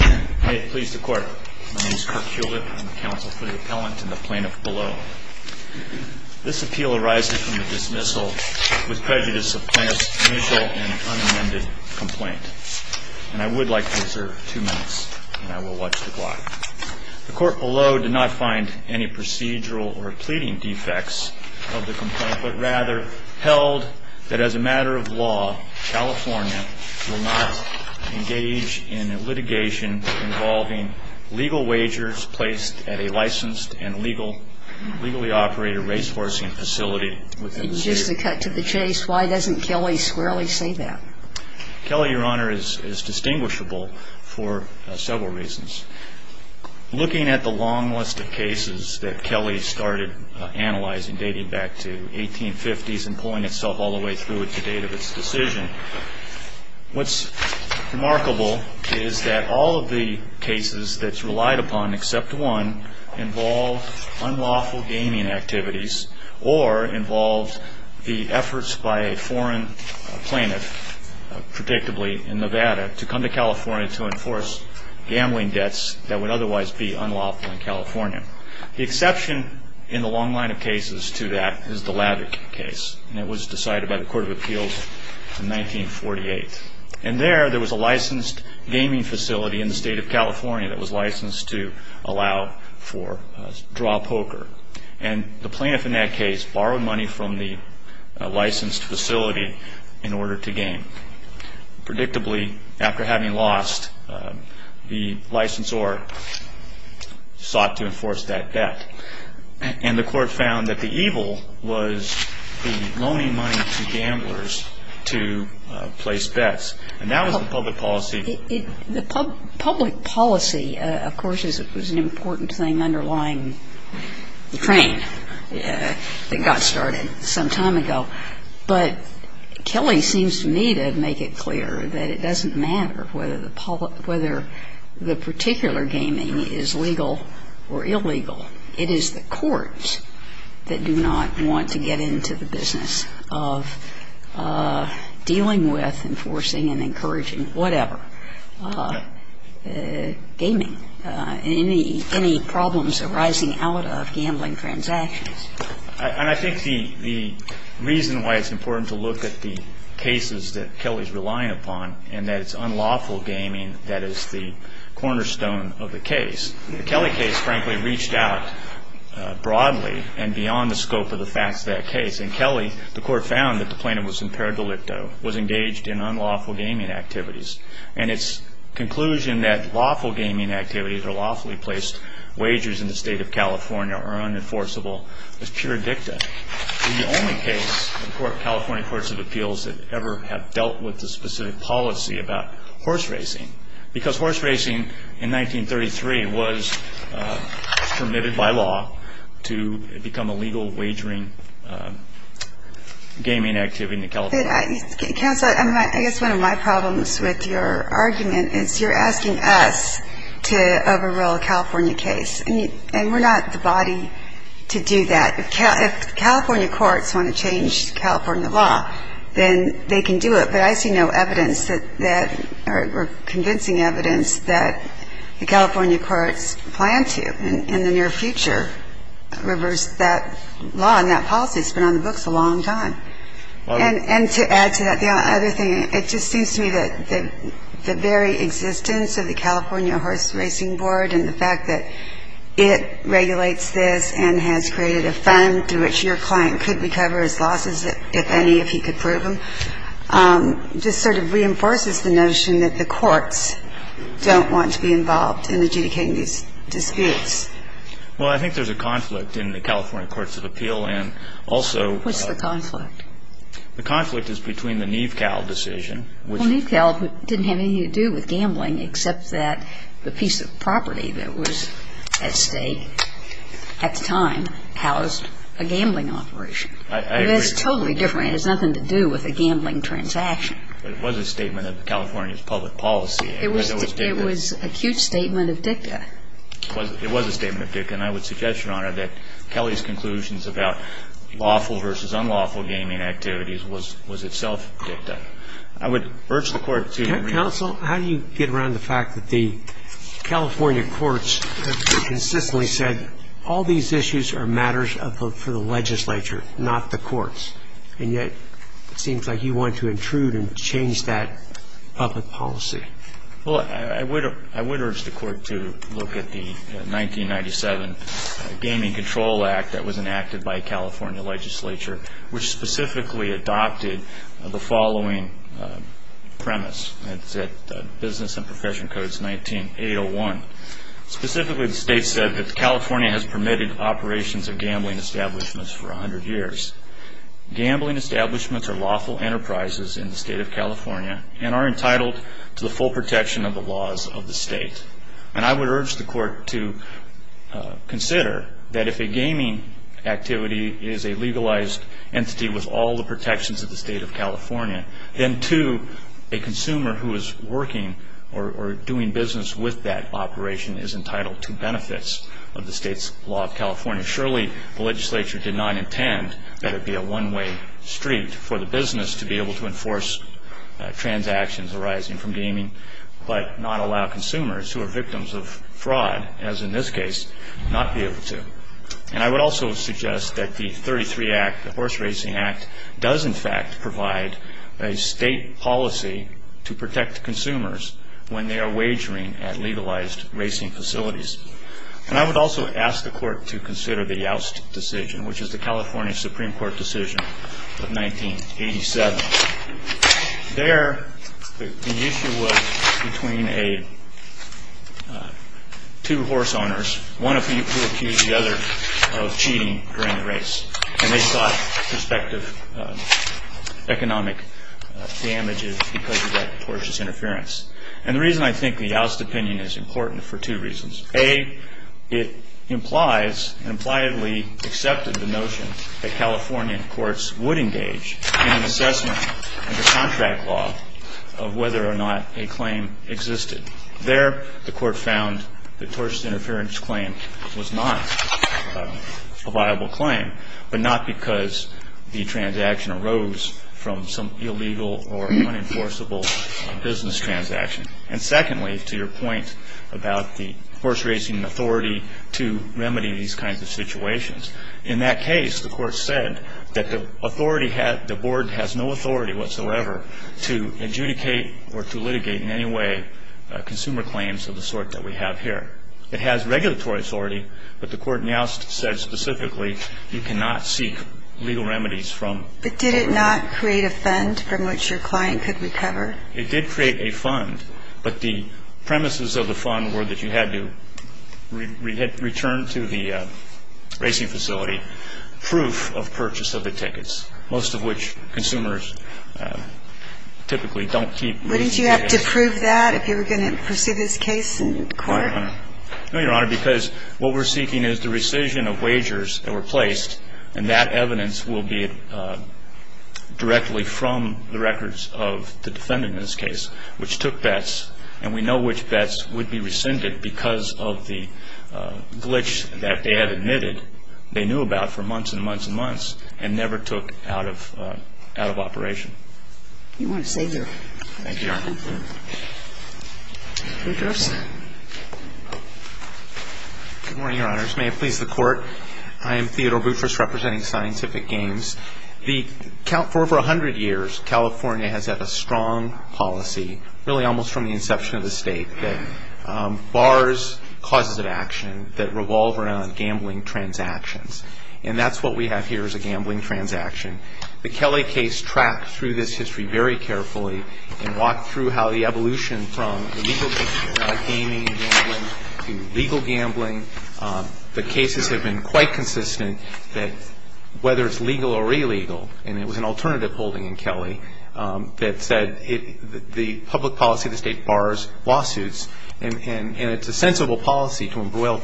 I please the court. My name is Kirk Hewlett. I'm the counsel for the appellant and the plaintiff below. This appeal arises from the dismissal with prejudice of plaintiff's initial and unamended complaint. And I would like to reserve two minutes, and I will watch the clock. The court below did not find any procedural or pleading defects of the complaint, but rather held that as a matter of law, California will not engage in litigation involving legal wagers placed at a licensed and legally operated race-horsing facility. And just to cut to the chase, why doesn't Kelly squarely say that? Kelly, Your Honor, is distinguishable for several reasons. Looking at the long list of cases that Kelly started analyzing dating back to 1850s and pulling itself all the way through it to date of its decision, what's remarkable is that all of the cases that's relied upon except one involve unlawful gaming activities or involve the efforts by a foreign plaintiff, predictably in Nevada, to come to California to enforce gambling debts that would otherwise be unlawful in California. The exception in the long line of cases to that is the Lavik case, and it was decided by the Court of Appeals in 1948. And there, there was a licensed gaming facility in the state of California that was licensed to allow for draw poker. And the plaintiff in that case borrowed money from the licensed facility in order to game. Predictably, after having lost, the licensor sought to enforce that debt. And the Court found that the evil was the loaning money to gamblers to place bets. And that was the public policy. The public policy, of course, was an important thing underlying the train that got started some time ago. But Kelly seems to me to make it clear that it doesn't matter whether the particular gaming is legal or illegal. It is the courts that do not want to get into the business of dealing with, enforcing and encouraging whatever, gaming. Any problems arising out of gambling transactions. And I think the reason why it's important to look at the cases that Kelly's relying upon and that it's unlawful gaming that is the cornerstone of the case. The Kelly case, frankly, reached out broadly and beyond the scope of the facts of that case. In Kelly, the Court found that the plaintiff was impaired de licto, was engaged in unlawful gaming activities. And its conclusion that lawful gaming activities or lawfully placed wagers in the state of California are unenforceable is pure dicta. The only case the California Courts of Appeals that ever have dealt with the specific policy about horse racing. Because horse racing in 1933 was permitted by law to become a legal wagering gaming activity in California. Counsel, I guess one of my problems with your argument is you're asking us to overrule a California case. And we're not the body to do that. If California courts want to change California law, then they can do it. But I see no evidence that or convincing evidence that the California courts plan to in the near future reverse that law and that policy. It's been on the books a long time. And to add to that, the other thing, it just seems to me that the very existence of the California Horse Racing Board and the fact that it regulates this and has created a fund through which your client could recover his losses, if any, if he could prove them, just sort of reinforces the notion that the courts don't want to be involved in adjudicating these disputes. Well, I think there's a conflict in the California Courts of Appeal and also. What's the conflict? The conflict is between the Neve Cal decision. Well, Neve Cal didn't have anything to do with gambling except that the piece of property that was at stake at the time housed a gambling operation. I agree. That's totally different. It has nothing to do with a gambling transaction. But it was a statement of California's public policy. It was a cute statement of dicta. It was a statement of dicta. And I would suggest, Your Honor, that Kelly's conclusions about lawful versus unlawful gaming activities was itself dicta. I would urge the Court to agree. Counsel, how do you get around the fact that the California courts consistently said, all these issues are matters for the legislature, not the courts, and yet it seems like you want to intrude and change that public policy? Well, I would urge the Court to look at the 1997 Gaming Control Act that was enacted by a California legislature, which specifically adopted the following premise. It's at Business and Profession Codes 19-801. Specifically, the state said that California has permitted operations of gambling establishments for 100 years. Gambling establishments are lawful enterprises in the state of California and are entitled to the full protection of the laws of the state. And I would urge the Court to consider that if a gaming activity is a legalized entity with all the protections of the state of California, then, too, a consumer who is working or doing business with that operation is entitled to benefits of the state's law of California. Surely, the legislature did not intend that it be a one-way street for the business to be able to enforce transactions arising from gaming but not allow consumers who are victims of fraud, as in this case, not be able to. And I would also suggest that the 33 Act, the Horse Racing Act, does in fact provide a state policy to protect consumers when they are wagering at legalized racing facilities. And I would also ask the Court to consider the Youst decision, which is the California Supreme Court decision of 1987. There, the issue was between two horse owners, one of whom accused the other of cheating during the race, and they sought prospective economic damages because of that tortious interference. And the reason I think the Youst opinion is important is for two reasons. A, it implies and impliedly accepted the notion that California courts would engage in an assessment of the contract law of whether or not a claim existed. There, the Court found the tortious interference claim was not a viable claim, but not because the transaction arose from some illegal or unenforceable business transaction. And secondly, to your point about the horse racing authority to remedy these kinds of situations, in that case, the Court said that the authority had the board has no authority whatsoever to adjudicate or to litigate in any way consumer claims of the sort that we have here. It has regulatory authority, but the Court now says specifically you cannot seek legal remedies from. But did it not create a fund from which your client could recover? It did create a fund, but the premises of the fund were that you had to return to the racing facility proof of purchase of the tickets, most of which consumers typically don't keep. Wouldn't you have to prove that if you were going to pursue this case in court? No, Your Honor, because what we're seeking is the rescission of wagers that were placed, and that evidence will be directly from the records of the defendant in this case, which took bets, and we know which bets would be rescinded because of the glitch that they had admitted they knew about for months and months and months and never took out of operation. You want to stay here. Thank you, Your Honor. Boutrous. Good morning, Your Honors. May it please the Court, I am Theodore Boutrous representing Scientific Games. For over 100 years, California has had a strong policy, really almost from the inception of the state, that bars causes of action that revolve around gambling transactions, and that's what we have here is a gambling transaction. The Kelley case tracked through this history very carefully and walked through how the evolution from legal gaming and gambling to legal gambling. The cases have been quite consistent that whether it's legal or illegal, and it was an alternative holding in Kelley that said the public policy of the state bars lawsuits, and it's a sensible policy to embroil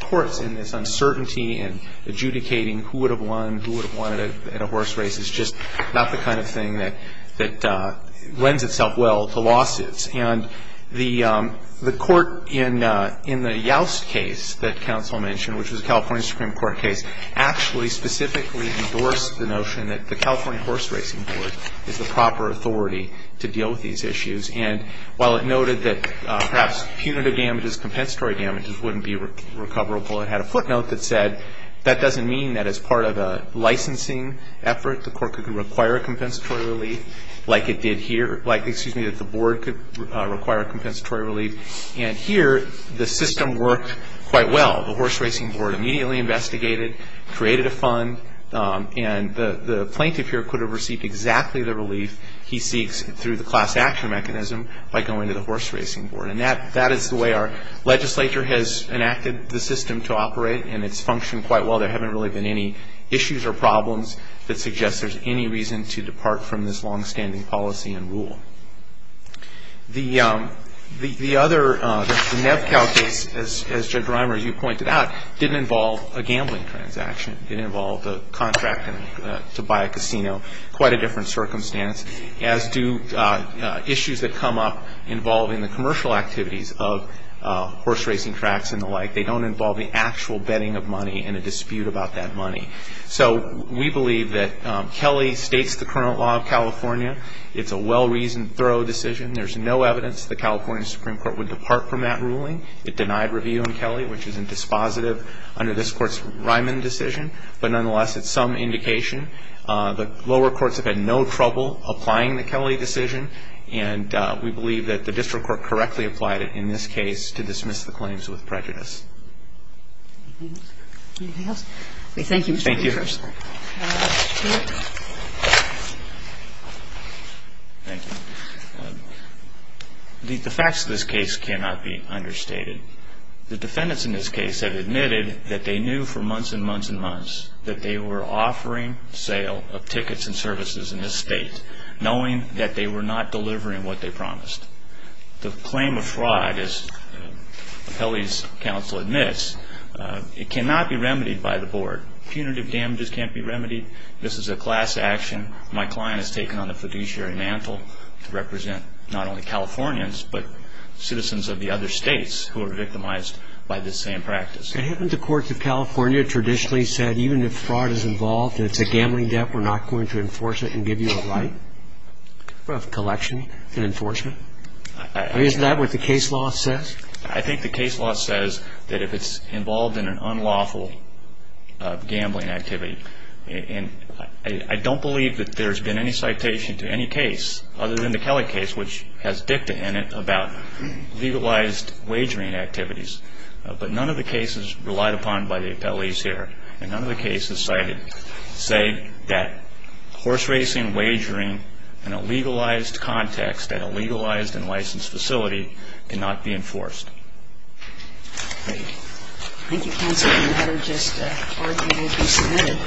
courts in this uncertainty and adjudicating who would have won, who would have won at a horse race. It's just not the kind of thing that lends itself well to lawsuits. And the court in the Youst case that counsel mentioned, which was a California Supreme Court case, actually specifically endorsed the notion that the California Horse Racing Court is the proper authority to deal with these issues. And while it noted that perhaps punitive damages, compensatory damages wouldn't be recoverable, it had a footnote that said that doesn't mean that as part of a licensing effort, the court could require a compensatory relief like it did here, like, excuse me, that the board could require a compensatory relief. And here, the system worked quite well. The Horse Racing Board immediately investigated, created a fund, and the plaintiff here could have received exactly the relief he seeks through the class action mechanism by going to the Horse Racing Board. And that is the way our legislature has enacted the system to operate, and it's functioned quite well. There haven't really been any issues or problems that suggest there's any reason to depart from this longstanding policy and rule. The other, the NevCal case, as Judge Reimer, you pointed out, didn't involve a gambling transaction. It involved a contract to buy a casino, quite a different circumstance, as do issues that come up involving the commercial activities of horse racing tracks and the like. They don't involve the actual betting of money and a dispute about that money. So we believe that Kelly states the current law of California. It's a well-reasoned, thorough decision. There's no evidence the California Supreme Court would depart from that ruling. It denied review on Kelly, which isn't dispositive under this Court's Ryman decision. But nonetheless, it's some indication. The lower courts have had no trouble applying the Kelly decision, and we believe that the district court correctly applied it in this case to dismiss the claims with prejudice. Anything else? Thank you, Mr. Chief Justice. Thank you. Thank you. The facts of this case cannot be understated. The defendants in this case have admitted that they knew for months and months and months that they were offering sale of tickets and services in this State, knowing that they were not delivering what they promised. The claim of fraud, as Kelly's counsel admits, it cannot be remedied by the Board. Punitive damages can't be remedied. This is a class action. My client has taken on the fiduciary mantle to represent not only Californians, but citizens of the other States who are victimized by this same practice. Haven't the courts of California traditionally said, even if fraud is involved and it's a gambling debt, we're not going to enforce it and give you a right of collection and enforcement? Is that what the case law says? I think the case law says that if it's involved in an unlawful gambling activity, and I don't believe that there's been any citation to any case other than the Kelly case, which has dicta in it about legalized wagering activities. But none of the cases relied upon by the appellees here, and none of the cases cited say that horse racing, wagering, in a legalized context at a legalized and licensed facility, cannot be enforced. Thank you. Thank you, counsel. The matter just argued to be submitted.